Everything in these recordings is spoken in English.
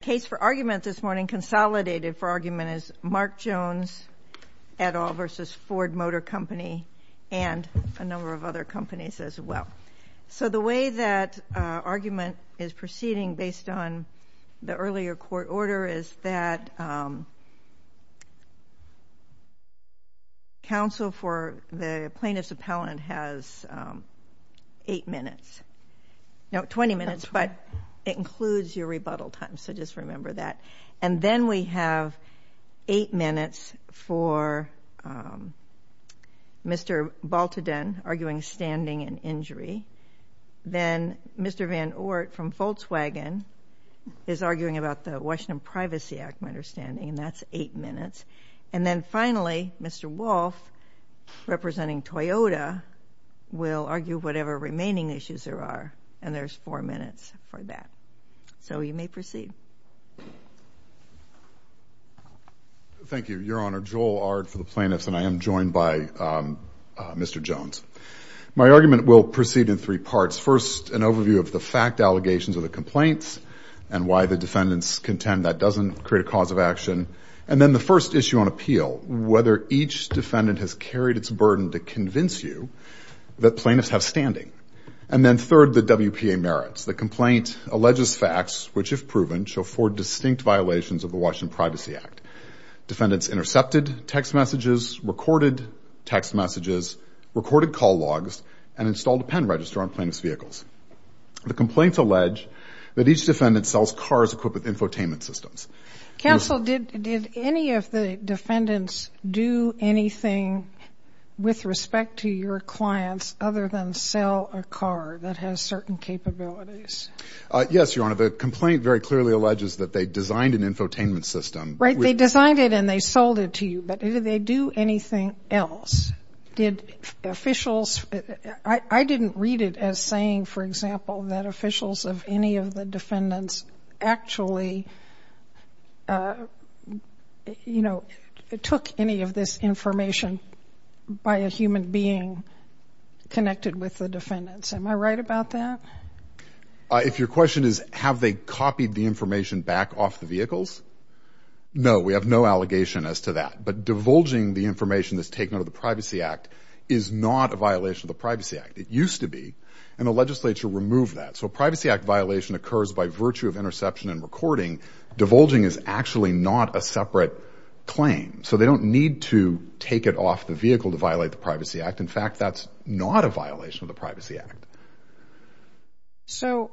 The case for argument this morning, consolidated for argument, is Mark Jones et al. v. Ford Motor Company and a number of other companies as well. So the way that argument is proceeding based on the earlier court order is that counsel for the plaintiff's appellant has eight minutes, no, twenty minutes, but it includes your rebuttal time. So just remember that. And then we have eight minutes for Mr. Baltadine arguing standing and injury. Then Mr. Van Ort from Volkswagen is arguing about the Washington Privacy Act, my understanding, and that's eight minutes. And then finally, Mr. Wolfe, representing Toyota, will argue whatever remaining issues there are, and there's four minutes for that. So you may proceed. Thank you, Your Honor. Joel Ard for the plaintiffs, and I am joined by Mr. Jones. My argument will proceed in three parts. First, an overview of the fact allegations of the complaints and why the defendants contend that doesn't create a cause of action. And then the first issue on appeal, whether each defendant has carried its burden to convince you that plaintiffs have standing. And then third, the WPA merits. The complaint alleges facts which, if proven, show four distinct violations of the Washington Privacy Act. Defendants intercepted text messages, recorded text messages, recorded call logs, and installed a pen register on plaintiff's vehicles. The complaints allege that each defendant sells cars equipped with infotainment systems. Counsel, did any of the defendants do anything with respect to your clients other than sell a car that has certain capabilities? Yes, Your Honor, the complaint very clearly alleges that they designed an infotainment system. Right, they designed it and they sold it to you, but did they do anything else? Did officials, I didn't read it as saying, for example, that officials of any of the defendants actually, you know, took any of this information by a human being connected with the defendants? Am I right about that? If your question is have they copied the information back off the vehicles, no, we have no allegation as to that. But divulging the information that's taken out of the Privacy Act is not a violation of the Privacy Act. It used to be, and the legislature removed that. So a Privacy Act violation occurs by virtue of interception and recording. Divulging is actually not a separate claim. So they don't need to take it off the vehicle to violate the Privacy Act. In fact, that's not a violation of the Privacy Act. So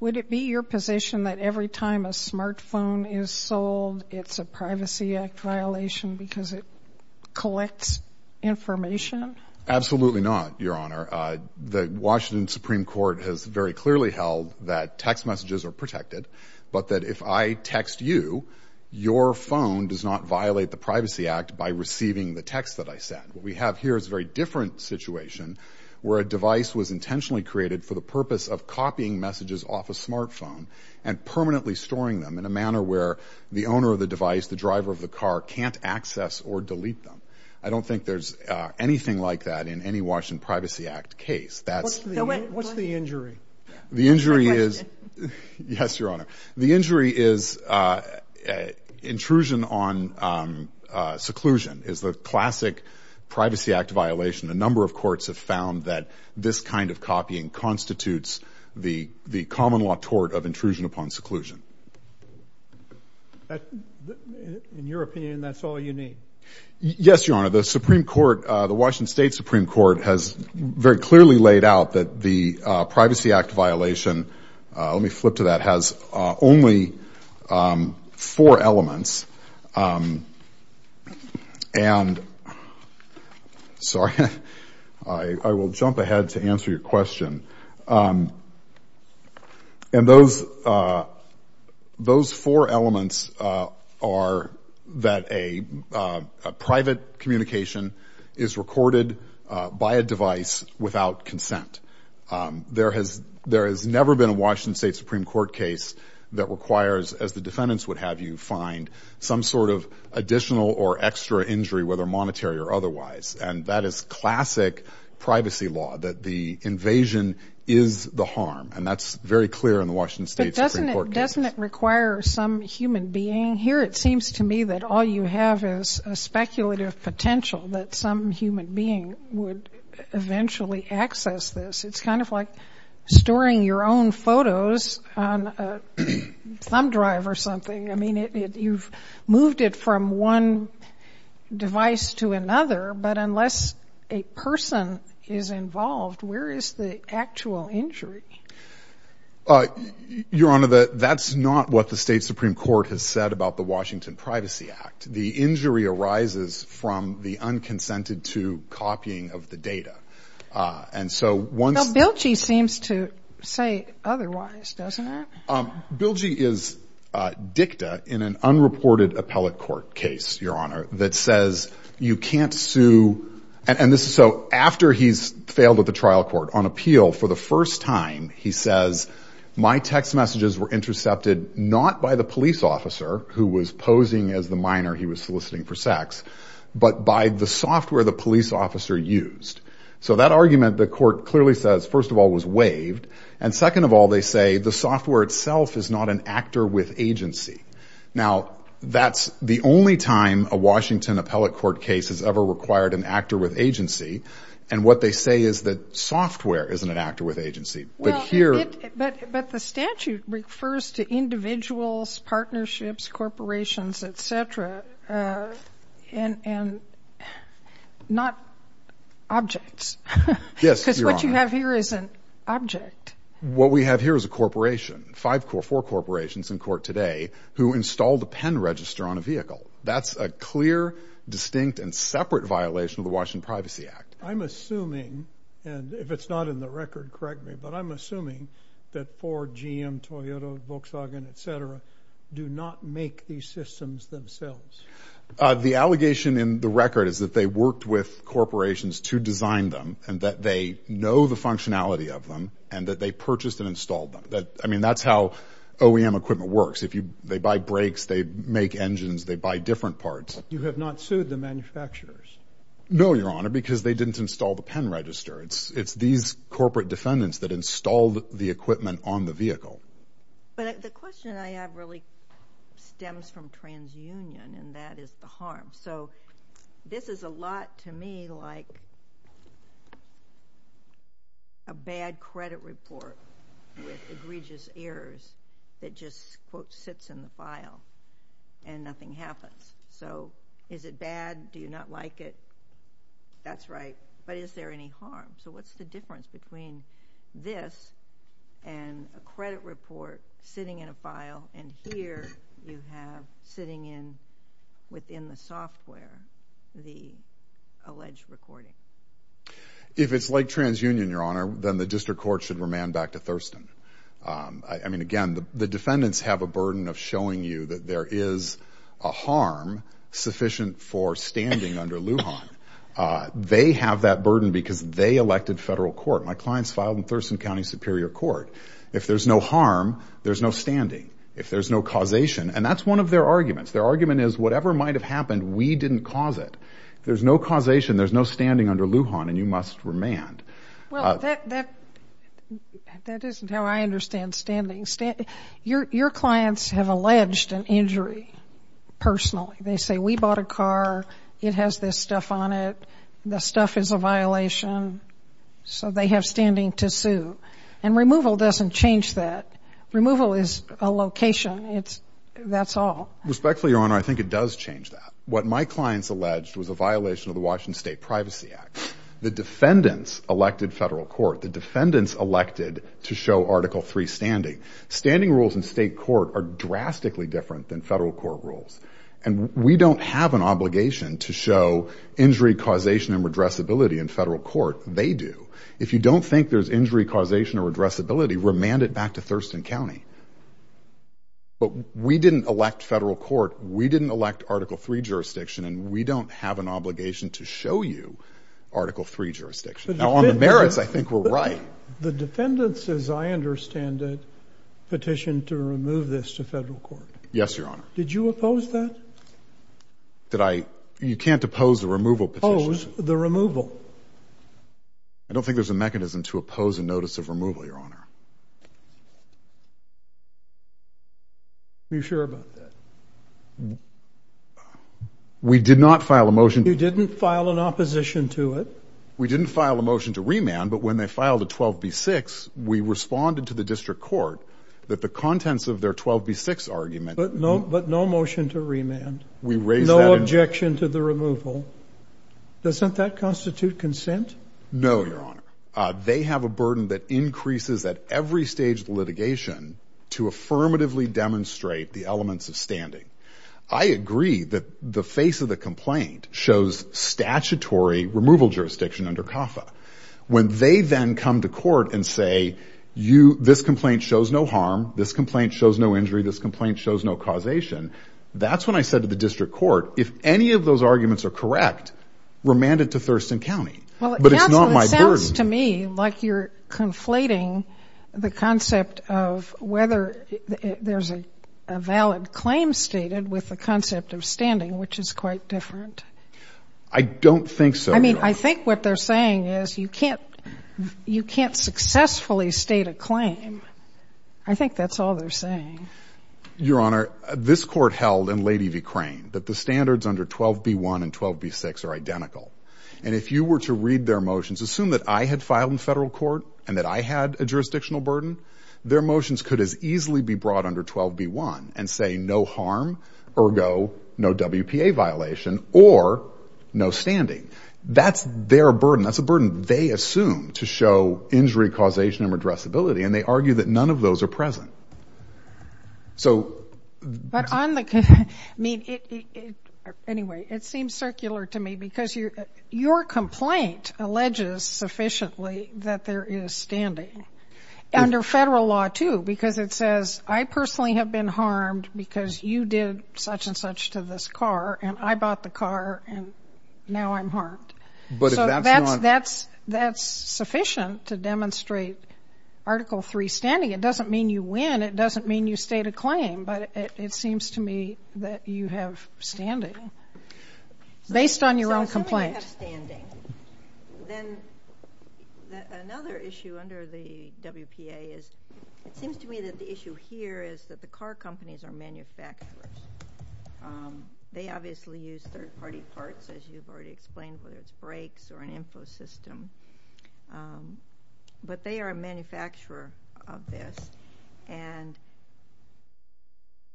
would it be your position that every time a smartphone is sold, it's a Privacy Act violation because it collects information? Absolutely not, Your Honor. The Washington Supreme Court has very clearly held that text messages are protected, but that if I text you, your phone does not violate the Privacy Act by receiving the text that I sent. What we have here is a very different situation where a device was intentionally created for the purpose of copying messages off a smartphone and permanently storing them in a manner where the owner of the device, the driver of the car, can't access or delete them. I don't think there's anything like that in any Washington Privacy Act case. What's the injury? The injury is, yes, Your Honor, the injury is intrusion on seclusion, is the classic Privacy Act violation. A number of courts have found that this kind of copying constitutes the common law tort of intrusion upon seclusion. In your opinion, that's all you need? Yes, Your Honor. The Supreme Court, the Washington State Supreme Court has very clearly laid out that the Privacy Act violation, let me flip to that, has only four elements. And, sorry, I will jump ahead to answer your question. And those four elements are that a private communication is recorded by a device without consent. There has never been a Washington State Supreme Court case that requires, as the defendants would have you find, some sort of additional or extra injury, whether monetary or otherwise. And that is classic privacy law, that the invasion is the harm. And that's very clear in the Washington State Supreme Court case. But doesn't it require some human being? Here it seems to me that all you have is a speculative potential that some human being would eventually access this. It's kind of like storing your own photos on a thumb drive or something. I mean, you've moved it from one device to another. But unless a person is involved, where is the actual injury? Your Honor, that's not what the State Supreme Court has said about the Washington Privacy Act. The injury arises from the unconsented-to copying of the data. Now, Bilgey seems to say otherwise, doesn't it? Bilgey is dicta in an unreported appellate court case, Your Honor, that says you can't sue. And this is so after he's failed at the trial court on appeal. For the first time, he says, my text messages were intercepted not by the police officer who was posing as the minor he was soliciting for sex, but by the software the police officer used. So that argument, the court clearly says, first of all, was waived. And second of all, they say the software itself is not an actor with agency. Now, that's the only time a Washington appellate court case has ever required an actor with agency. And what they say is that software isn't an actor with agency. But here... Objects. Yes, Your Honor. Because what you have here is an object. What we have here is a corporation, four corporations in court today, who installed a pen register on a vehicle. That's a clear, distinct, and separate violation of the Washington Privacy Act. I'm assuming, and if it's not in the record, correct me, but I'm assuming that Ford, GM, Toyota, Volkswagen, et cetera, do not make these systems themselves. The allegation in the record is that they worked with corporations to design them, and that they know the functionality of them, and that they purchased and installed them. I mean, that's how OEM equipment works. They buy brakes, they make engines, they buy different parts. You have not sued the manufacturers? No, Your Honor, because they didn't install the pen register. It's these corporate defendants that installed the equipment on the vehicle. But the question I have really stems from transunion, and that is the harm. So this is a lot to me like a bad credit report with egregious errors that just, quote, sits in the file, and nothing happens. So is it bad? Do you not like it? That's right. But is there any harm? So what's the difference between this and a credit report sitting in a file, and here you have sitting in, within the software, the alleged recording? If it's like transunion, Your Honor, then the district court should remand back to Thurston. I mean, again, the defendants have a burden of showing you that there is a harm sufficient for standing under Lujan. They have that burden because they elected federal court. My clients filed in Thurston County Superior Court. If there's no harm, there's no standing. If there's no causation, and that's one of their arguments. Their argument is whatever might have happened, we didn't cause it. There's no causation. There's no standing under Lujan, and you must remand. Well, that isn't how I understand standing. Your clients have alleged an injury personally. They say, we bought a car. It has this stuff on it. The stuff is a violation. So they have standing to sue. And removal doesn't change that. Removal is a location. That's all. Respectfully, Your Honor, I think it does change that. What my clients alleged was a violation of the Washington State Privacy Act. The defendants elected federal court. The defendants elected to show Article III standing. Standing rules in state court are drastically different than federal court rules. And we don't have an obligation to show injury, causation, and redressability in federal court. They do. If you don't think there's injury, causation, or redressability, remand it back to Thurston County. But we didn't elect federal court. We didn't elect Article III jurisdiction, and we don't have an obligation to show you Article III jurisdiction. Now, on the merits, I think we're right. The defendants, as I understand it, petitioned to remove this to federal court. Yes, Your Honor. Did you oppose that? Did I? You can't oppose the removal petition. Oppose the removal. I don't think there's a mechanism to oppose a notice of removal, Your Honor. You sure about that? We did not file a motion. You didn't file an opposition to it. We didn't file a motion to remand, but when they filed a 12B6, we responded to the district court that the contents of their 12B6 argument— But no motion to remand. We raised that— No objection to the removal. Doesn't that constitute consent? No, Your Honor. They have a burden that increases at every stage of the litigation to affirmatively demonstrate the elements of standing. I agree that the face of the complaint shows statutory removal jurisdiction under CAFA. When they then come to court and say, this complaint shows no harm, this complaint shows no injury, this complaint shows no causation, that's when I said to the district court, if any of those arguments are correct, remand it to Thurston County. But it's not my burden. Counsel, it sounds to me like you're conflating the concept of whether there's a valid claim with the concept of standing, which is quite different. I don't think so. I mean, I think what they're saying is you can't successfully state a claim. I think that's all they're saying. Your Honor, this court held in Lady V. Crane that the standards under 12B1 and 12B6 are identical. And if you were to read their motions, assume that I had filed in federal court and that I had a jurisdictional burden, their motions could as easily be brought under 12B1 and 12B6 and say no harm, ergo, no WPA violation, or no standing. That's their burden. That's a burden they assume to show injury, causation, and addressability, and they argue that none of those are present. So... But on the, I mean, anyway, it seems circular to me because your complaint alleges sufficiently that there is standing. Under federal law, too, because it says I personally have been harmed because you did such and such to this car, and I bought the car, and now I'm harmed. But if that's not... So that's sufficient to demonstrate Article III standing. It doesn't mean you win. It doesn't mean you state a claim, but it seems to me that you have standing based on your own complaint. I have standing. Then another issue under the WPA is, it seems to me that the issue here is that the car companies are manufacturers. They obviously use third-party parts, as you've already explained, whether it's brakes or an info system, but they are a manufacturer of this, and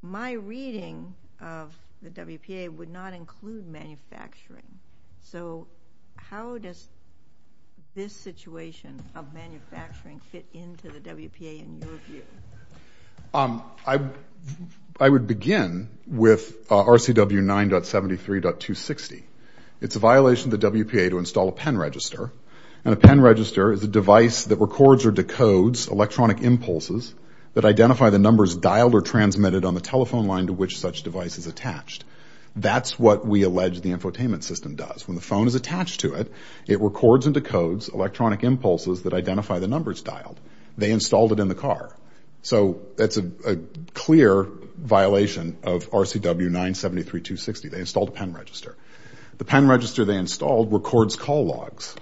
my reading of the WPA would not include manufacturing. So how does this situation of manufacturing fit into the WPA in your view? I would begin with RCW 9.73.260. It's a violation of the WPA to install a pen register, and a pen register is a device that records or decodes electronic impulses that identify the numbers dialed or transmitted on the telephone line to which such device is attached. That's what we allege the infotainment system does. When the phone is attached to it, it records and decodes electronic impulses that identify the numbers dialed. They installed it in the car. So that's a clear violation of RCW 9.73.260. They installed a pen register. The pen register they installed records call logs.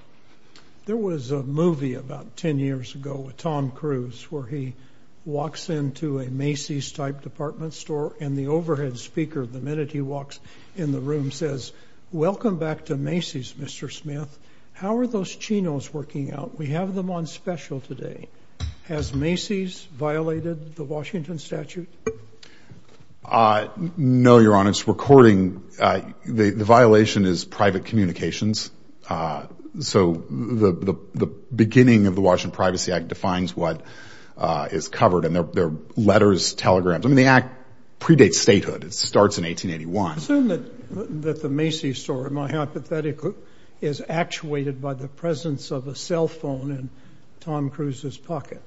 There was a movie about 10 years ago with Tom Cruise where he walks into a Macy's-type department store, and the overhead speaker, the minute he walks in the room, says, Welcome back to Macy's, Mr. Smith. How are those chinos working out? We have them on special today. Has Macy's violated the Washington statute? No, Your Honor. It's recording. The violation is private communications. So the beginning of the Washington Privacy Act defines what is covered, and they're letters, telegrams. I mean, the act predates statehood. It starts in 1881. I assume that the Macy's store, in my hypothetical, is actuated by the presence of a cell phone in Tom Cruise's pocket.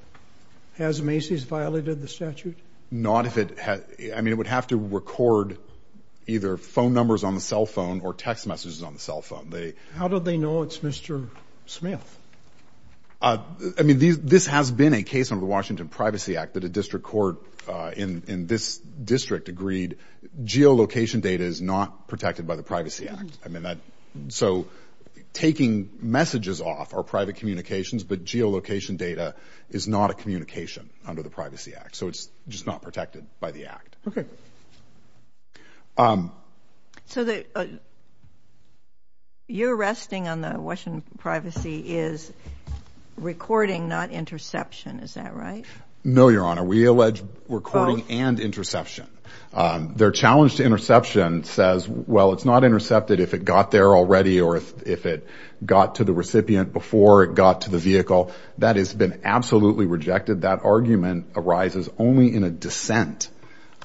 Has Macy's violated the statute? Not if it has. I mean, it would have to record either phone numbers on the cell phone or text messages on the cell phone. How do they know it's Mr. Smith? I mean, this has been a case under the Washington Privacy Act that a district court in this district agreed geolocation data is not protected by the Privacy Act. So taking messages off are private communications, but geolocation data is not a communication under the Privacy Act. So it's just not protected by the act. Okay. So you're resting on the Washington Privacy is recording, not interception. Is that right? No, Your Honor. We allege recording and interception. Their challenge to interception says, well, it's not intercepted if it got there already or if it got to the recipient before it got to the vehicle. That has been absolutely rejected. That argument arises only in a dissent.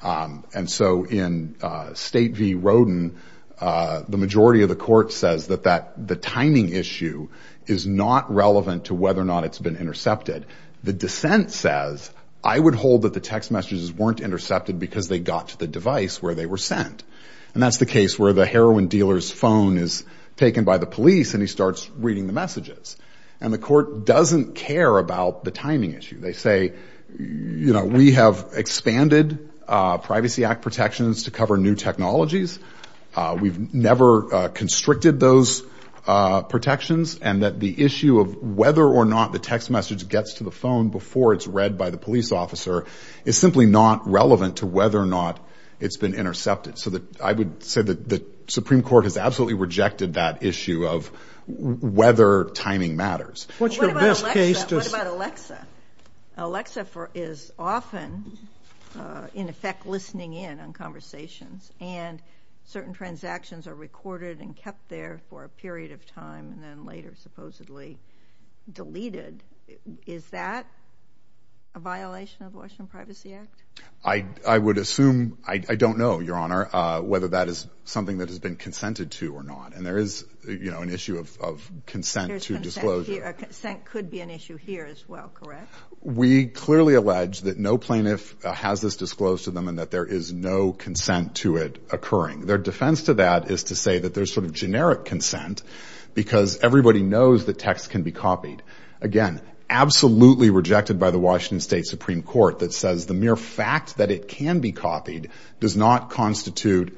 And so in State v. Roden, the majority of the court says that the timing issue is not relevant to whether or not it's been intercepted. The dissent says, I would hold that the text messages weren't intercepted because they got to the device where they were sent. And that's the case where the heroin dealer's phone is taken by the police and he starts reading the messages. And the court doesn't care about the timing issue. They say, you know, we have expanded Privacy Act protections to cover new technologies. We've never constricted those protections. And that the issue of whether or not the text message gets to the phone before it's read by the police officer is simply not relevant to whether or not it's been intercepted. So I would say that the Supreme Court has absolutely rejected that issue of whether timing matters. What's your best case? What about Alexa? Alexa is often, in effect, listening in on conversations and certain transactions are recorded and kept there for a period of time and then later supposedly deleted. Is that a violation of Washington Privacy Act? I would assume, I don't know, Your Honor, whether that is something that has been consented to or not. And there is, you know, an issue of consent to disclosure. Consent could be an issue here as well, correct? We clearly allege that no plaintiff has this disclosed to them and that there is no consent to it occurring. Their defense to that is to say that there's sort of generic consent because everybody knows that text can be copied. Again, absolutely rejected by the Washington State Supreme Court that says the mere fact that it can be copied does not constitute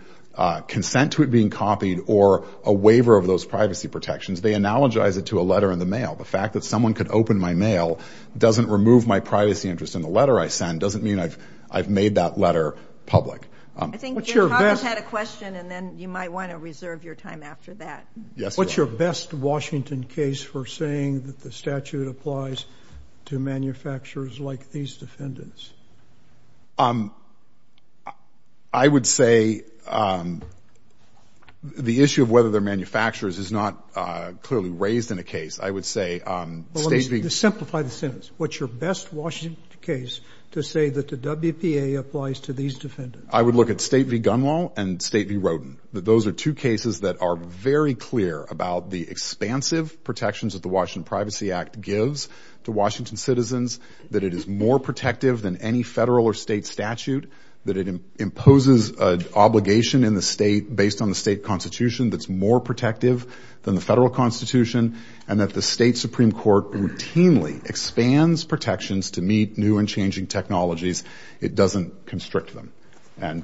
consent to it being copied or a waiver of those privacy protections. They analogize it to a letter in the mail. The fact that someone could open my mail doesn't remove my privacy interest and the letter I send doesn't mean I've made that letter public. I think your colleagues had a question and then you might want to reserve your time after that. Yes, Your Honor. What's your best Washington case for saying that the statute applies to manufacturers like these defendants? I would say the issue of whether they're manufacturers is not clearly raised in a case. I would say State v. Well, let me just simplify the sentence. What's your best Washington case to say that the WPA applies to these defendants? I would look at State v. Gunwale and State v. Rodin. federal or state statute, that it imposes an obligation in the state based on the state constitution that's more protective than the federal constitution, and that the State Supreme Court routinely expands protections to meet new and changing technologies. It doesn't constrict them. And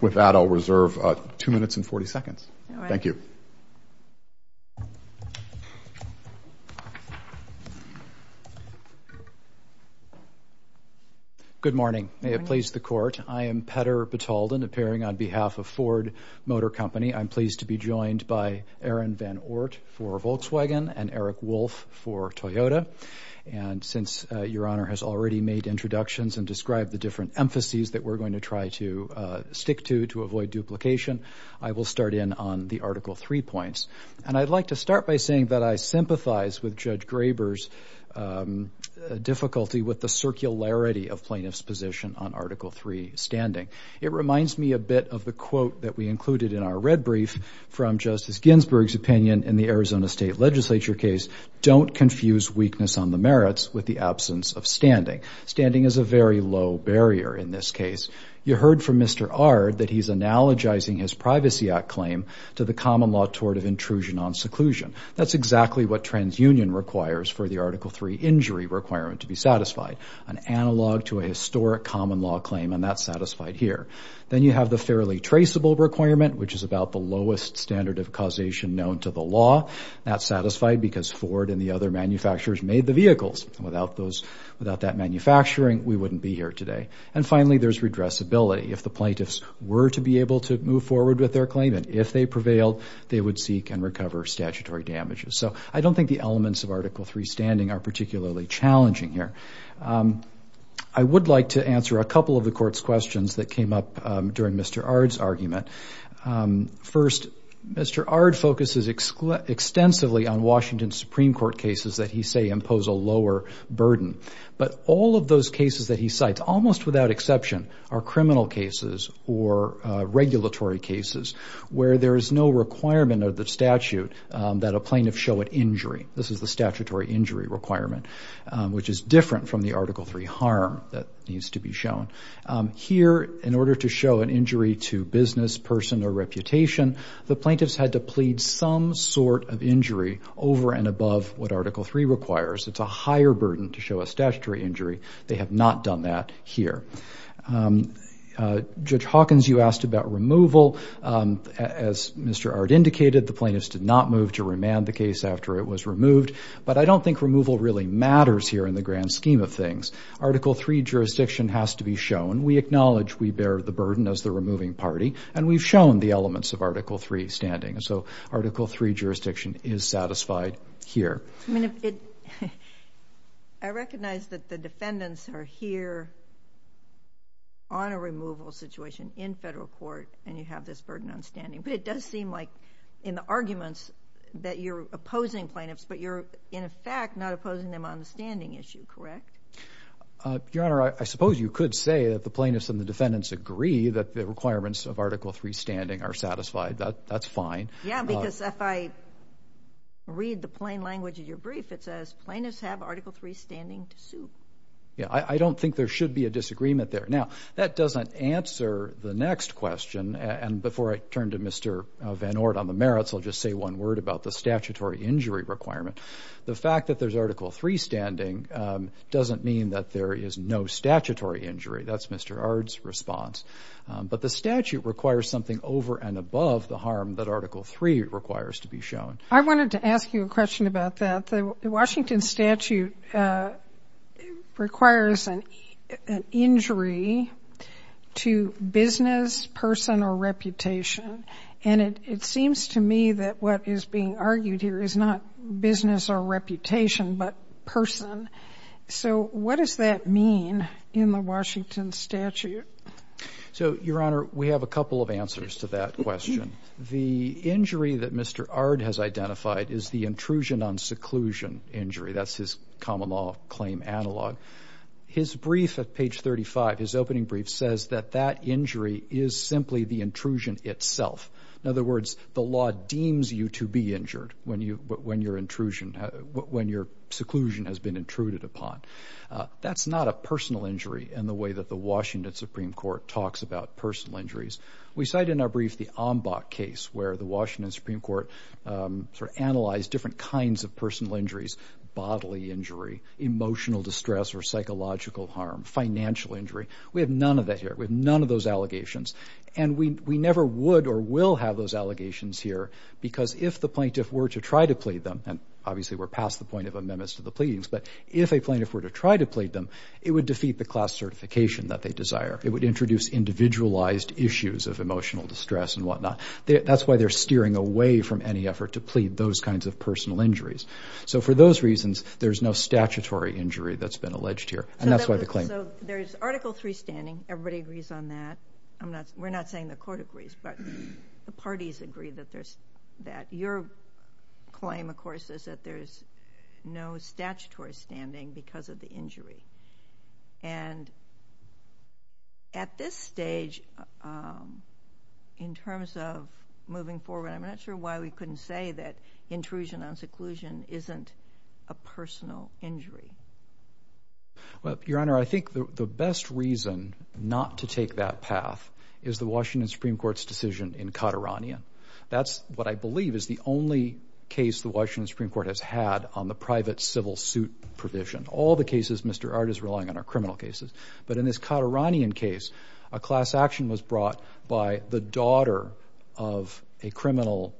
with that, I'll reserve two minutes and 40 seconds. Thank you. Good morning. May it please the Court. I am Petter Batalden, appearing on behalf of Ford Motor Company. I'm pleased to be joined by Aaron Van Oort for Volkswagen and Eric Wolf for Toyota. And since Your Honor has already made introductions and described the different emphases that I will start in on the Article III points. And I'd like to start by saying that I sympathize with Judge Graber's difficulty with the circularity of plaintiff's position on Article III standing. It reminds me a bit of the quote that we included in our red brief from Justice Ginsburg's opinion in the Arizona State Legislature case, don't confuse weakness on the merits with the absence of standing. Standing is a very low barrier in this case. You heard from Mr. Ard that he's analogizing his Privacy Act claim to the common law tort of intrusion on seclusion. That's exactly what TransUnion requires for the Article III injury requirement to be satisfied, an analog to a historic common law claim, and that's satisfied here. Then you have the fairly traceable requirement, which is about the lowest standard of causation known to the law. That's satisfied because Ford and the other manufacturers made the vehicles. Without that manufacturing, we wouldn't be here today. And finally, there's redressability. If the plaintiffs were to be able to move forward with their claim, and if they prevailed, they would seek and recover statutory damages. So I don't think the elements of Article III standing are particularly challenging here. I would like to answer a couple of the Court's questions that came up during Mr. Ard's argument. First, Mr. Ard focuses extensively on Washington Supreme Court cases that he say impose a lower burden. But all of those cases that he cites, almost without exception, are criminal cases or regulatory cases where there is no requirement of the statute that a plaintiff show an injury. This is the statutory injury requirement, which is different from the Article III harm that needs to be shown. Here, in order to show an injury to business, person, or reputation, the plaintiffs had to plead some sort of injury over and above what Article III requires. It's a higher burden to show a statutory injury. They have not done that here. Judge Hawkins, you asked about removal. As Mr. Ard indicated, the plaintiffs did not move to remand the case after it was removed. But I don't think removal really matters here in the grand scheme of things. Article III jurisdiction has to be shown. We acknowledge we bear the burden as the removing party. And we've shown the elements of Article III standing. So Article III jurisdiction is satisfied here. I mean, I recognize that the defendants are here on a removal situation in federal court, and you have this burden on standing. But it does seem like, in the arguments, that you're opposing plaintiffs, but you're, in effect, not opposing them on the standing issue, correct? Your Honor, I suppose you could say that the plaintiffs and the defendants agree that the requirements of Article III standing are satisfied. That's fine. Yeah, because if I read the plain language of your brief, it says, plaintiffs have Article III standing to sue. Yeah, I don't think there should be a disagreement there. Now, that doesn't answer the next question. And before I turn to Mr. Van Orden on the merits, I'll just say one word about the statutory injury requirement. The fact that there's Article III standing doesn't mean that there is no statutory injury. That's Mr. Ard's response. But the statute requires something over and above the harm that Article III requires to be shown. I wanted to ask you a question about that. The Washington statute requires an injury to business, person, or reputation. And it seems to me that what is being argued here is not business or reputation, but person. So what does that mean in the Washington statute? So Your Honor, we have a couple of answers to that question. The injury that Mr. Ard has identified is the intrusion on seclusion injury. That's his common law claim analog. His brief at page 35, his opening brief, says that that injury is simply the intrusion itself. In other words, the law deems you to be injured when your intrusion, when your seclusion has been intruded upon. That's not a personal injury in the way that the Washington Supreme Court talks about personal injuries. We cite in our brief the Ambach case where the Washington Supreme Court sort of analyzed different kinds of personal injuries, bodily injury, emotional distress or psychological harm, financial injury. We have none of that here. We have none of those allegations. And we never would or will have those allegations here because if the plaintiff were to try to plead them, and obviously we're past the point of amendments to the pleadings, but if a plaintiff were to try to plead them, it would defeat the class certification that they desire. It would introduce individualized issues of emotional distress and whatnot. That's why they're steering away from any effort to plead those kinds of personal injuries. So for those reasons, there's no statutory injury that's been alleged here, and that's why the claim. So there's Article III standing. Everybody agrees on that. We're not saying the Court agrees, but the parties agree that there's that. Your claim, of course, is that there's no statutory standing because of the injury. And at this stage, in terms of moving forward, I'm not sure why we couldn't say that intrusion on seclusion isn't a personal injury. Well, Your Honor, I think the best reason not to take that path is the Washington Supreme Court's decision in Katerania. That's what I believe is the only case the Washington Supreme Court has had on the private civil suit provision, all the cases Mr. Ard is relying on are criminal cases. But in this Kateranian case, a class action was brought by the daughter of a criminal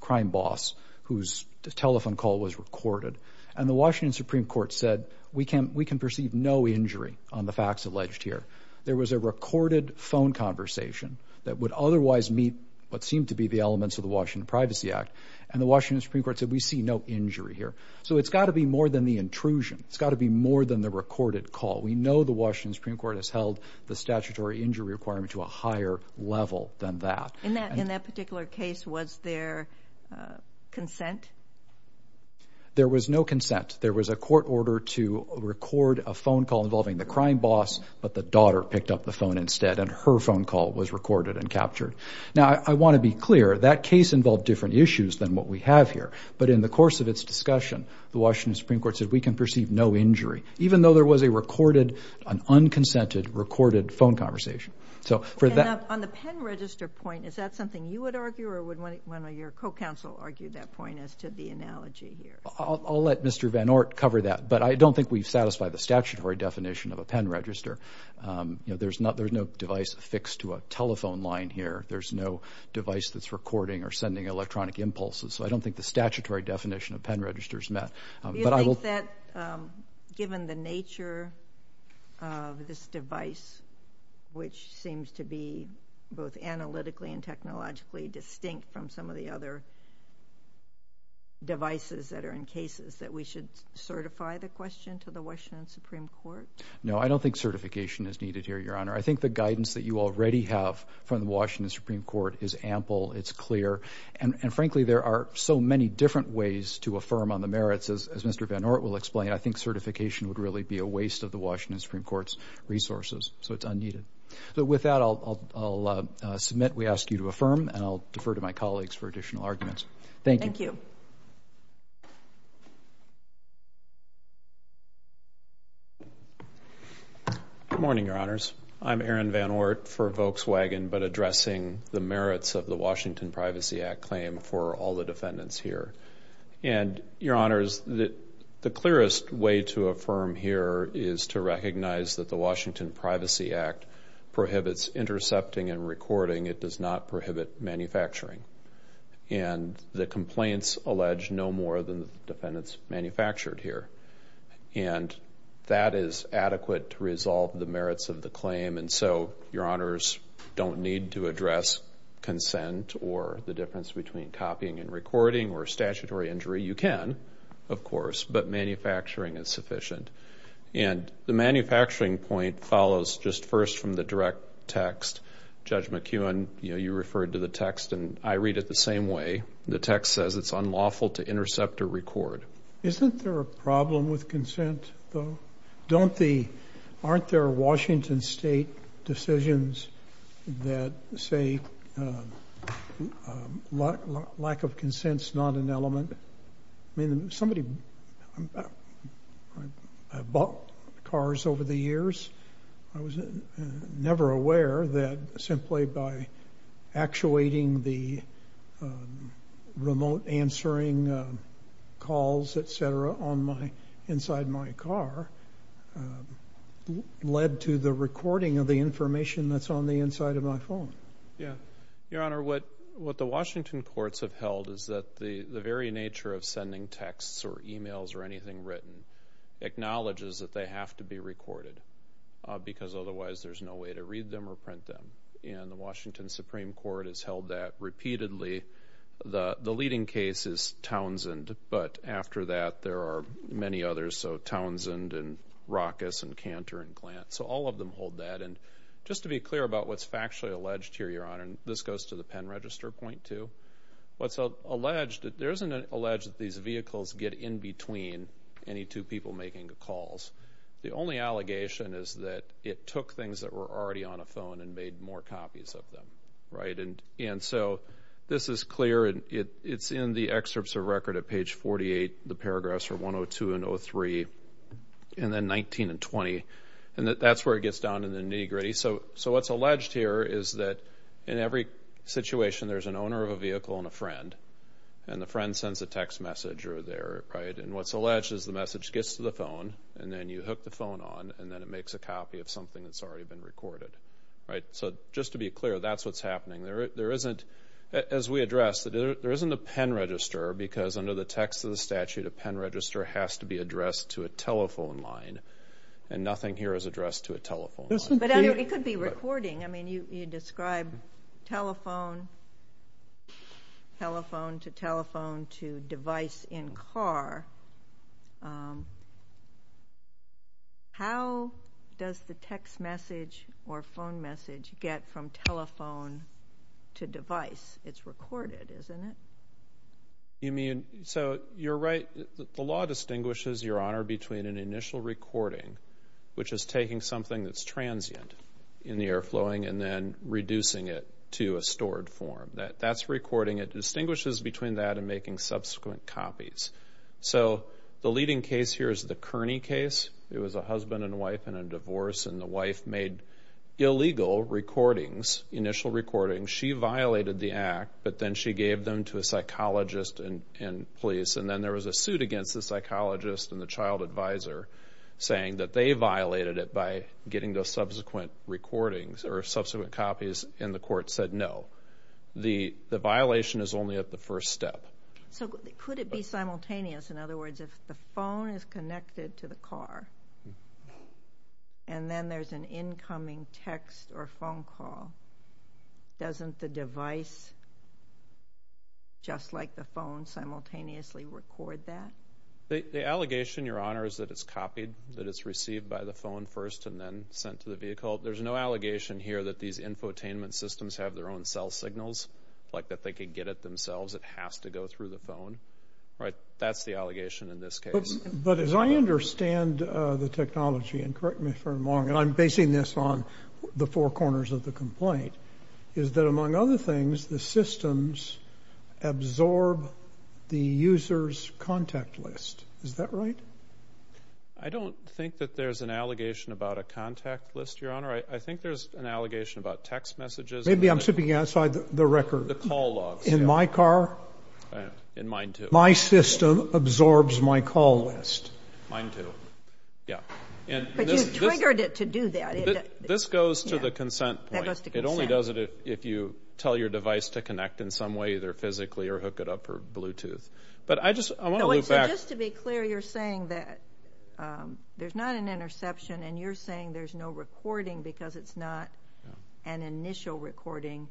crime boss whose telephone call was recorded, and the Washington Supreme Court said we can perceive no injury on the facts alleged here. There was a recorded phone conversation that would otherwise meet what seemed to be the elements of the Washington Privacy Act, and the Washington Supreme Court said we see no injury here. So it's got to be more than the intrusion. It's got to be more than the recorded call. We know the Washington Supreme Court has held the statutory injury requirement to a higher level than that. In that particular case, was there consent? There was no consent. There was a court order to record a phone call involving the crime boss, but the daughter picked up the phone instead, and her phone call was recorded and captured. Now, I want to be clear. That case involved different issues than what we have here, but in the course of its discussion, the Washington Supreme Court said we can perceive no injury, even though there was a recorded, an unconsented recorded phone conversation. So, for that- On the pen register point, is that something you would argue or would one of your co-counsel argue that point as to the analogy here? I'll let Mr. Van Ort cover that, but I don't think we've satisfied the statutory definition of a pen register. There's no device affixed to a telephone line here. There's no device that's recording or sending electronic impulses, so I don't think the statutory definition of pen register is met. Do you think that, given the nature of this device, which seems to be both analytically and technologically distinct from some of the other devices that are in cases, that we should certify the question to the Washington Supreme Court? No, I don't think certification is needed here, Your Honor. I think the guidance that you already have from the Washington Supreme Court is ample, it's clear, and frankly, there are so many different ways to affirm on the merits, as Mr. Van Ort will explain. I think certification would really be a waste of the Washington Supreme Court's resources, so it's unneeded. With that, I'll submit we ask you to affirm, and I'll defer to my colleagues for additional arguments. Thank you. Thank you. Good morning, Your Honors. I'm Aaron Van Ort for Volkswagen, but addressing the merits of the Washington Privacy Act claim for all the defendants here. Your Honors, the clearest way to affirm here is to recognize that the Washington Privacy Act prohibits intercepting and recording. It does not prohibit manufacturing, and the complaints allege no more than the defendants manufactured here, and that is adequate to resolve the merits of the claim, and so Your Honors don't need to address consent or the difference between copying and recording or statutory injury. You can, of course, but manufacturing is sufficient, and the manufacturing point follows just a first from the direct text. Judge McEwen, you know, you referred to the text, and I read it the same way. The text says it's unlawful to intercept or record. Isn't there a problem with consent, though? Aren't there Washington State decisions that say lack of consent's not an element? I mean, I've bought cars over the years. I was never aware that simply by actuating the remote answering calls, et cetera, inside my car led to the recording of the information that's on the inside of my phone. Your Honor, what the Washington courts have held is that the very nature of sending texts or emails or anything written acknowledges that they have to be recorded, because otherwise there's no way to read them or print them, and the Washington Supreme Court has held that repeatedly. The leading case is Townsend, but after that there are many others, so Townsend and Ruckus and Cantor and Glantz, so all of them hold that, and just to be clear about what's factually alleged here, Your Honor, and this goes to the pen register, point two, what's alleged, there isn't an alleged that these vehicles get in between any two people making the calls. The only allegation is that it took things that were already on a phone and made more copies of them, right? And so this is clear, and it's in the excerpts of record at page 48, the paragraphs are 102 and 03, and then 19 and 20, and that's where it gets down to the nitty-gritty. So what's alleged here is that in every situation there's an owner of a vehicle and a friend, and the friend sends a text message or their, right, and what's alleged is the message gets to the phone, and then you hook the phone on, and then it makes a copy of something that's already been recorded, right? So just to be clear, that's what's happening. There isn't, as we addressed, there isn't a pen register, because under the text of the statute, a pen register has to be addressed to a telephone line, and nothing here is addressed to a telephone line. But it could be recording. I mean, you describe telephone, telephone to telephone to device in car. How does the text message or phone message get from telephone to device? It's recorded, isn't it? You mean, so you're right, the law distinguishes, Your Honor, between an initial recording, which is taking something that's transient in the air flowing, and then reducing it to a stored form. That's recording. It distinguishes between that and making subsequent copies. So the leading case here is the Kearney case. It was a husband and wife in a divorce, and the wife made illegal recordings, initial recordings. She violated the act, but then she gave them to a psychologist and police, and then there was a suit against the psychologist and the child advisor, saying that they violated it by getting those subsequent recordings or subsequent copies, and the court said no. The violation is only at the first step. So could it be simultaneous, in other words, if the phone is connected to the car, and then there's an incoming text or phone call, doesn't the device, just like the phone, simultaneously record that? The allegation, Your Honor, is that it's copied, that it's received by the phone first and then sent to the vehicle. There's no allegation here that these infotainment systems have their own cell signals, like that they could get it themselves. It has to go through the phone, right? That's the allegation in this case. But as I understand the technology, and correct me if I'm wrong, and I'm basing this on the four corners of the complaint, is that, among other things, the systems absorb the user's contact list. Is that right? I don't think that there's an allegation about a contact list, Your Honor. I think there's an allegation about text messages. Maybe I'm sipping outside the record. The call logs. In my car? In mine, too. My system absorbs my call list. Mine, too. Yeah. But you triggered it to do that. This goes to the consent point. It only does it if you tell your device to connect in some way, either physically or hook it up for Bluetooth. But I just want to loop back. So just to be clear, you're saying that there's not an interception, and you're saying there's no recording because it's not an initial recording,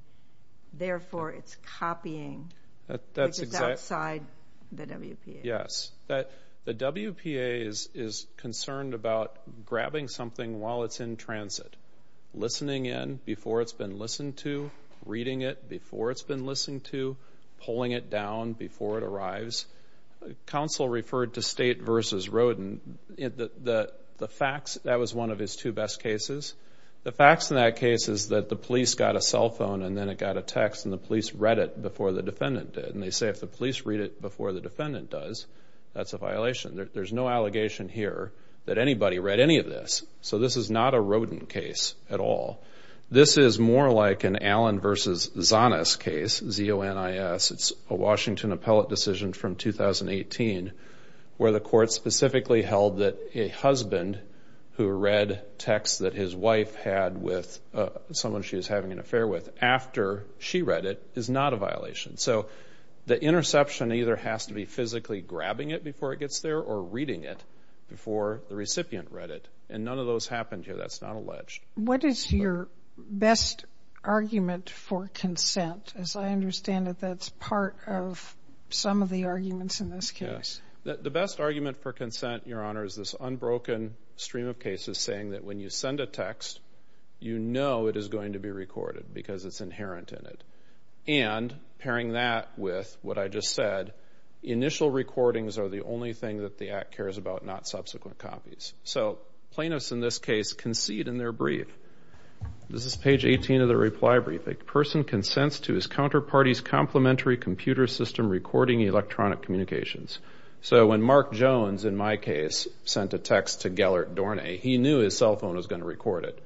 therefore it's copying, because it's outside the WPA. Yes. The WPA is concerned about grabbing something while it's in transit, listening in before it's been listened to, reading it before it's been listened to, pulling it down before it arrives. Counsel referred to State v. Roden. The facts, that was one of his two best cases. The facts in that case is that the police got a cell phone, and then it got a text, and the police read it before the defendant did. And they say if the police read it before the defendant does, that's a violation. There's no allegation here that anybody read any of this. So this is not a Roden case at all. This is more like an Allen v. Zonis case, Z-O-N-I-S. It's a Washington appellate decision from 2018 where the court specifically held that a husband who read text that his wife had with someone she was having an affair with after she read it is not a violation. So the interception either has to be physically grabbing it before it gets there or reading it before the recipient read it. And none of those happened here. That's not alleged. What is your best argument for consent? As I understand it, that's part of some of the arguments in this case. The best argument for consent, Your Honor, is this unbroken stream of cases saying that when you send a text, you know it is going to be recorded because it's inherent in it. And pairing that with what I just said, initial recordings are the only thing that the Act cares about, not subsequent copies. So plaintiffs in this case concede in their brief. This is page 18 of the reply brief. A person consents to his counterparty's complementary computer system recording electronic communications. So when Mark Jones, in my case, sent a text to Gellert Dornay, he knew his cell phone was going to record it.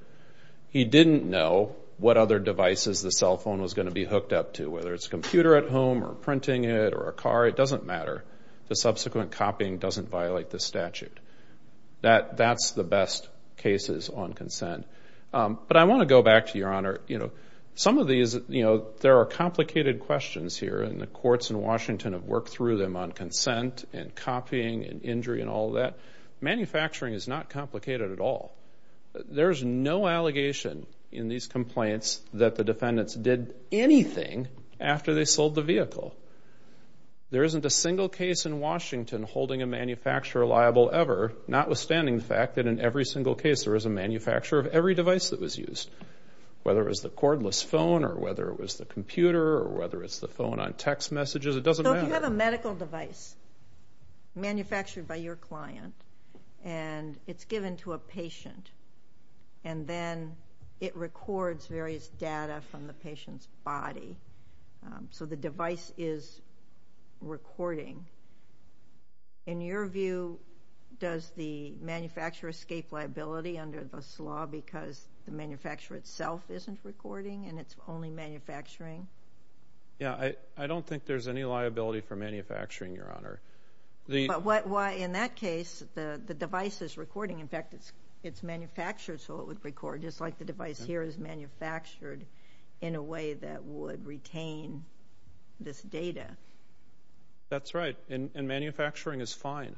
He didn't know what other devices the cell phone was going to be hooked up to, whether it's a computer at home or printing it or a car. It doesn't matter. The subsequent copying doesn't violate the statute. That's the best cases on consent. But I want to go back to, Your Honor, you know, some of these, you know, there are complicated questions here. And the courts in Washington have worked through them on consent and copying and injury and all that. Manufacturing is not complicated at all. There's no allegation in these complaints that the defendants did anything after they sold the vehicle. There isn't a single case in Washington holding a manufacturer liable ever, notwithstanding the fact that in every single case there was a manufacturer of every device that was used, whether it was the cordless phone or whether it was the computer or whether it's the phone on text messages. It doesn't matter. You have a medical device manufactured by your client, and it's given to a patient, and then it records various data from the patient's body. So the device is recording. In your view, does the manufacturer escape liability under this law because the manufacturer itself isn't recording and it's only manufacturing? Yeah. I don't think there's any liability for manufacturing, Your Honor. But why in that case, the device is recording. In fact, it's manufactured so it would record, just like the device here is manufactured in a way that would retain this data. That's right. And manufacturing is fine.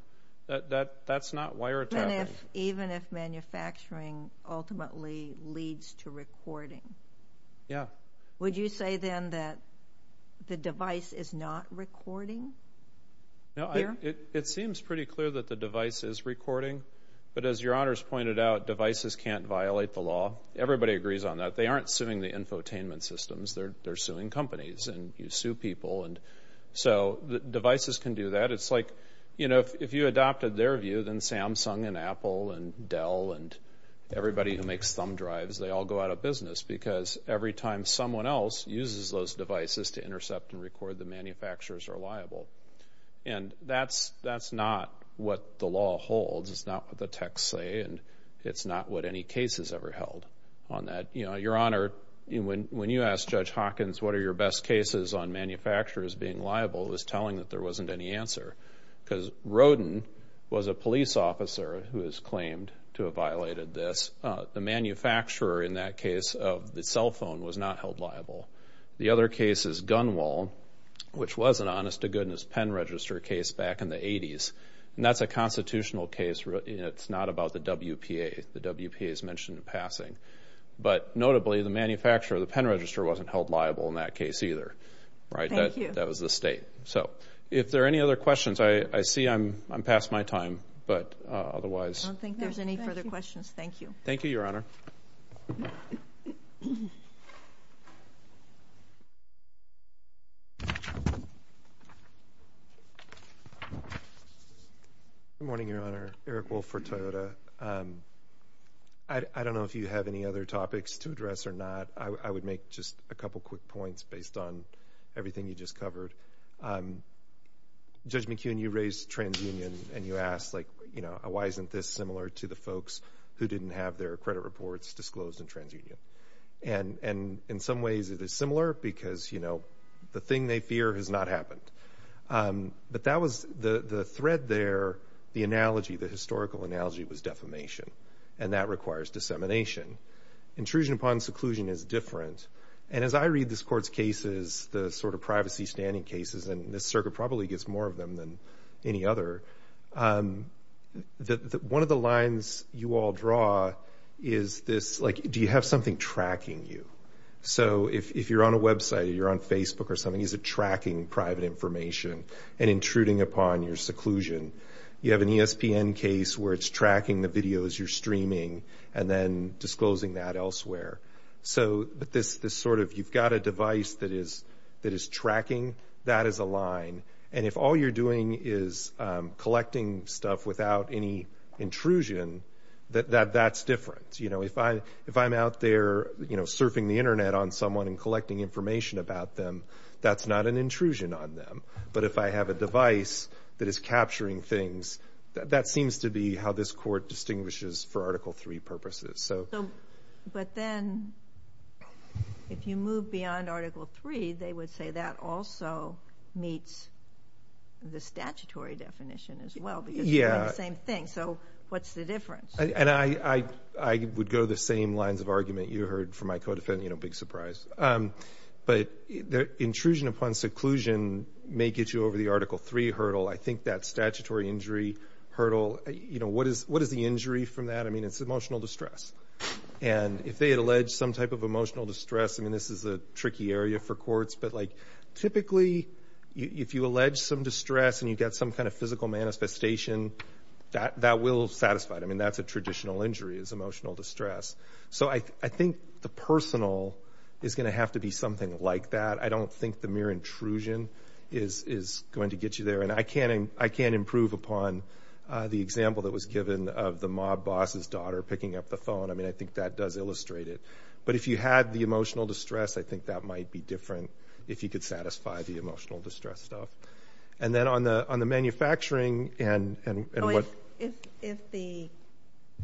That's not wiretapping. Even if manufacturing ultimately leads to recording? Yeah. Would you say then that the device is not recording? It seems pretty clear that the device is recording, but as Your Honor's pointed out, devices can't violate the law. Everybody agrees on that. They aren't suing the infotainment systems. They're suing companies, and you sue people. So devices can do that. It's like if you adopted their view, then Samsung and Apple and Dell and everybody who someone else uses those devices to intercept and record the manufacturers are liable. And that's not what the law holds. It's not what the texts say, and it's not what any case has ever held on that. Your Honor, when you asked Judge Hawkins, what are your best cases on manufacturers being liable? He was telling that there wasn't any answer because Rodin was a police officer who has claimed to have violated this. The manufacturer in that case of the cell phone was not held liable. The other case is Gunwale, which was an honest-to-goodness pen register case back in the 80s, and that's a constitutional case. It's not about the WPA. The WPA is mentioned in passing. But notably, the manufacturer of the pen register wasn't held liable in that case either. Right? Thank you. That was the state. So, if there are any other questions, I see I'm past my time, but otherwise- I don't think there's any further questions. Thank you. Thank you, Your Honor. Good morning, Your Honor. Eric Wolf for Toyota. I don't know if you have any other topics to address or not. I would make just a couple quick points based on everything you just covered. Judge McKeon, you raised TransUnion, and you asked, like, you know, why isn't this similar to the folks who didn't have their credit reports disclosed in TransUnion? And in some ways, it is similar because, you know, the thing they fear has not happened. But that was- the thread there, the analogy, the historical analogy was defamation, and that requires dissemination. Intrusion upon seclusion is different. And as I read this Court's cases, the sort of privacy standing cases, and this circuit probably gets more of them than any other, one of the lines you all draw is this, like, do you have something tracking you? So if you're on a website or you're on Facebook or something, is it tracking private information and intruding upon your seclusion? You have an ESPN case where it's tracking the videos you're streaming and then disclosing that elsewhere. So this sort of, you've got a device that is tracking, that is a line. And if all you're doing is collecting stuff without any intrusion, that's different. You know, if I'm out there, you know, surfing the Internet on someone and collecting information about them, that's not an intrusion on them. But if I have a device that is capturing things, that seems to be how this Court distinguishes for Article III purposes. So, but then, if you move beyond Article III, they would say that also meets the statutory definition as well because you're doing the same thing. So what's the difference? And I would go the same lines of argument you heard from my co-defendant, you know, big surprise. But the intrusion upon seclusion may get you over the Article III hurdle. I think that statutory injury hurdle, you know, what is the injury from that? I mean, it's emotional distress. And if they had alleged some type of emotional distress, I mean, this is a tricky area for courts, but like, typically, if you allege some distress and you get some kind of physical manifestation, that will satisfy them. And that's a traditional injury, is emotional distress. So I think the personal is going to have to be something like that. I don't think the mere intrusion is going to get you there. And I can't improve upon the example that was given of the mob boss's daughter picking up the phone. I mean, I think that does illustrate it. But if you had the emotional distress, I think that might be different, if you could satisfy the emotional distress stuff. And then on the manufacturing and what – Oh, if the –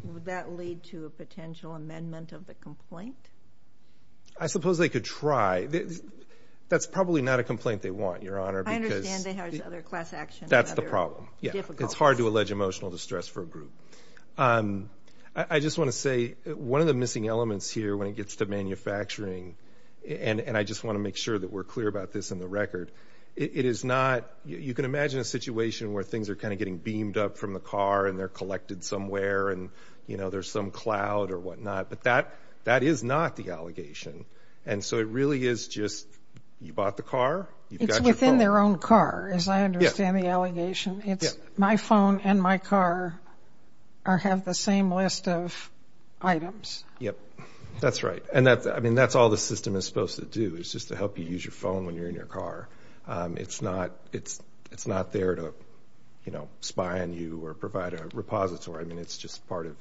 would that lead to a potential amendment of the complaint? I suppose they could try. That's probably not a complaint they want, Your Honor, because – That's the problem. Yeah. It's hard to allege emotional distress for a group. I just want to say, one of the missing elements here, when it gets to manufacturing, and I just want to make sure that we're clear about this in the record, it is not – you can imagine a situation where things are kind of getting beamed up from the car and they're collected somewhere, and there's some cloud or whatnot. But that is not the allegation. In their own car, as I understand the allegation, it's my phone and my car have the same list of items. Yep. That's right. And that's – I mean, that's all the system is supposed to do, is just to help you use your phone when you're in your car. It's not – it's not there to, you know, spy on you or provide a repository. I mean, it's just part of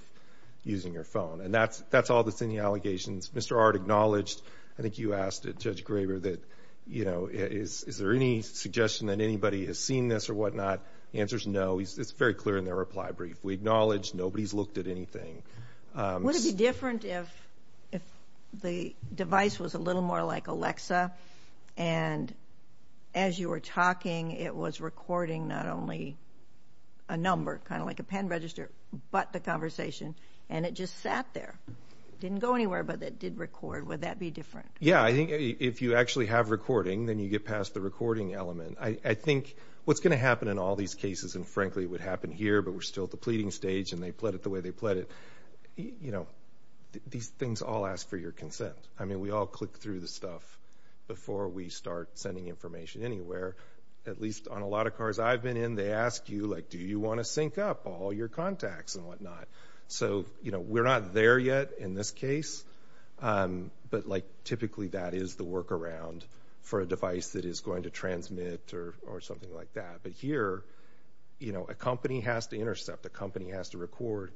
using your phone. And that's all that's in the allegations. Mr. Ard acknowledged – I think you asked it, Judge Graber, that, you know, is there any suggestion that anybody has seen this or whatnot? The answer's no. It's very clear in their reply brief. We acknowledge nobody's looked at anything. Would it be different if the device was a little more like Alexa, and as you were talking, it was recording not only a number, kind of like a pen register, but the conversation, and it just sat there? It didn't go anywhere, but it did record. Would that be different? Yeah. I think if you actually have recording, then you get past the recording element. I think what's going to happen in all these cases – and frankly, it would happen here, but we're still at the pleading stage, and they pled it the way they pled it – you know, these things all ask for your consent. I mean, we all click through the stuff before we start sending information anywhere. At least on a lot of cars I've been in, they ask you, like, do you want to sync up all your contacts and whatnot? So, you know, we're not there yet in this case, but, like, typically that is the work around for a device that is going to transmit or something like that. But here, you know, a company has to intercept, a company has to record.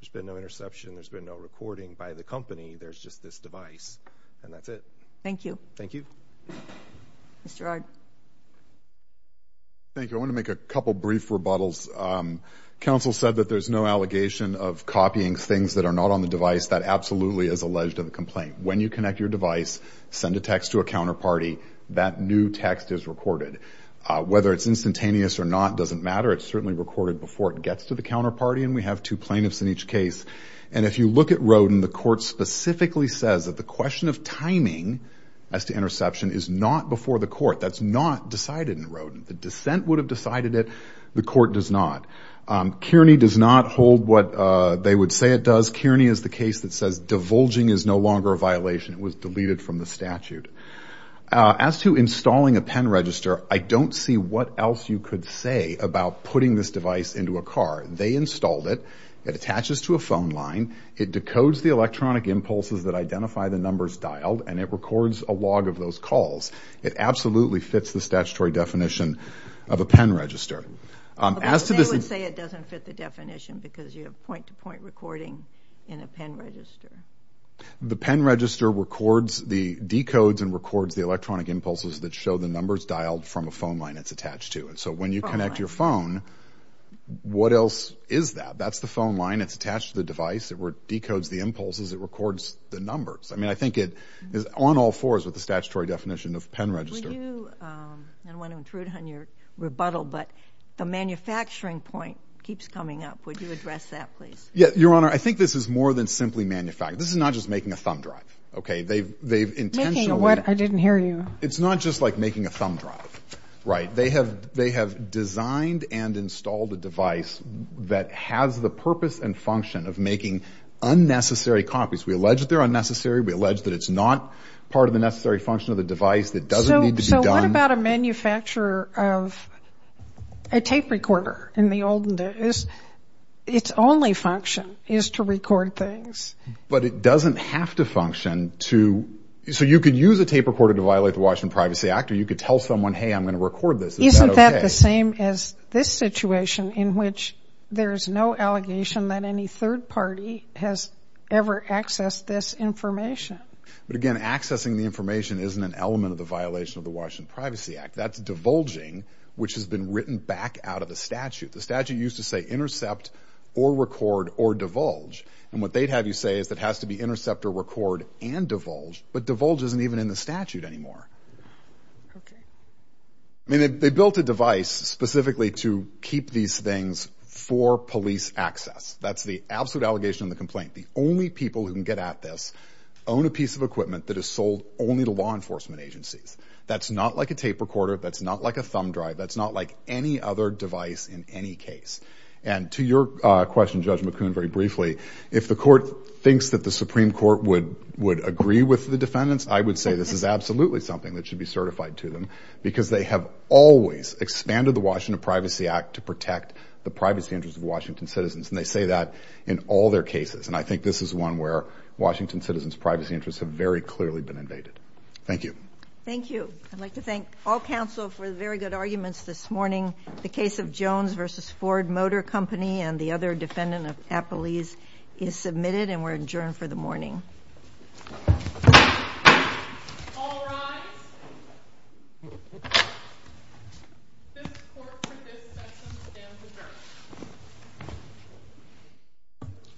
There's been no interception, there's been no recording by the company. There's just this device, and that's it. Thank you. Thank you. Mr. Ard. Thank you. I want to make a couple brief rebuttals. Counsel said that there's no allegation of copying things that are not on the device. That absolutely is alleged in the complaint. When you connect your device, send a text to a counterparty, that new text is recorded. Whether it's instantaneous or not doesn't matter. It's certainly recorded before it gets to the counterparty, and we have two plaintiffs in each case. And if you look at Roden, the court specifically says that the question of timing as to interception is not before the court. That's not decided in Roden. The dissent would have decided it. The court does not. Kearney does not hold what they would say it does. Kearney is the case that says divulging is no longer a violation. It was deleted from the statute. As to installing a pen register, I don't see what else you could say about putting this device into a car. They installed it. It attaches to a phone line. It decodes the electronic impulses that identify the numbers dialed, and it records a log of those calls. It absolutely fits the statutory definition of a pen register. But they would say it doesn't fit the definition because you have point-to-point recording in a pen register. The pen register records, decodes, and records the electronic impulses that show the numbers dialed from a phone line it's attached to. So when you connect your phone, what else is that? That's the phone line. It's attached to the device. It decodes the impulses. It records the numbers. I think it is on all fours with the statutory definition of pen register. I don't want to intrude on your rebuttal, but the manufacturing point keeps coming up. Would you address that, please? Your Honor, I think this is more than simply manufacturing. This is not just making a thumb drive. OK? They've intentionally... Making a what? I didn't hear you. It's not just like making a thumb drive. Right. They have designed and installed a device that has the purpose and function of making unnecessary copies. We allege that they're unnecessary. We allege that it's not part of the necessary function of the device. It doesn't need to be done. So what about a manufacturer of a tape recorder in the olden days? Its only function is to record things. But it doesn't have to function to... So you could use a tape recorder to violate the Washington Privacy Act, or you could tell someone, hey, I'm going to record this. Isn't that OK? Isn't that the same as this situation in which there is no allegation that any third party has ever accessed this information? But again, accessing the information isn't an element of the violation of the Washington Privacy Act. That's divulging, which has been written back out of the statute. The statute used to say intercept or record or divulge. And what they'd have you say is it has to be intercept or record and divulge. But divulge isn't even in the statute anymore. OK. I mean, they built a device specifically to keep these things for police access. That's the absolute allegation in the complaint. The only people who can get at this own a piece of equipment that is sold only to law enforcement agencies. That's not like a tape recorder. That's not like a thumb drive. That's not like any other device in any case. And to your question, Judge McCoon, very briefly, if the court thinks that the Supreme Court would agree with the defendants, I would say this is absolutely something that should be certified to them, because they have always expanded the Washington Privacy Act to protect the privacy interests of Washington citizens. And they say that in all their cases. And I think this is one where Washington citizens' privacy interests have very clearly been invaded. Thank you. Thank you. I'd like to thank all counsel for the very good arguments this morning. The case of Jones v. Ford Motor Company and the other defendant of Appalese is submitted and we're adjourned for the morning. All rise. Thank you.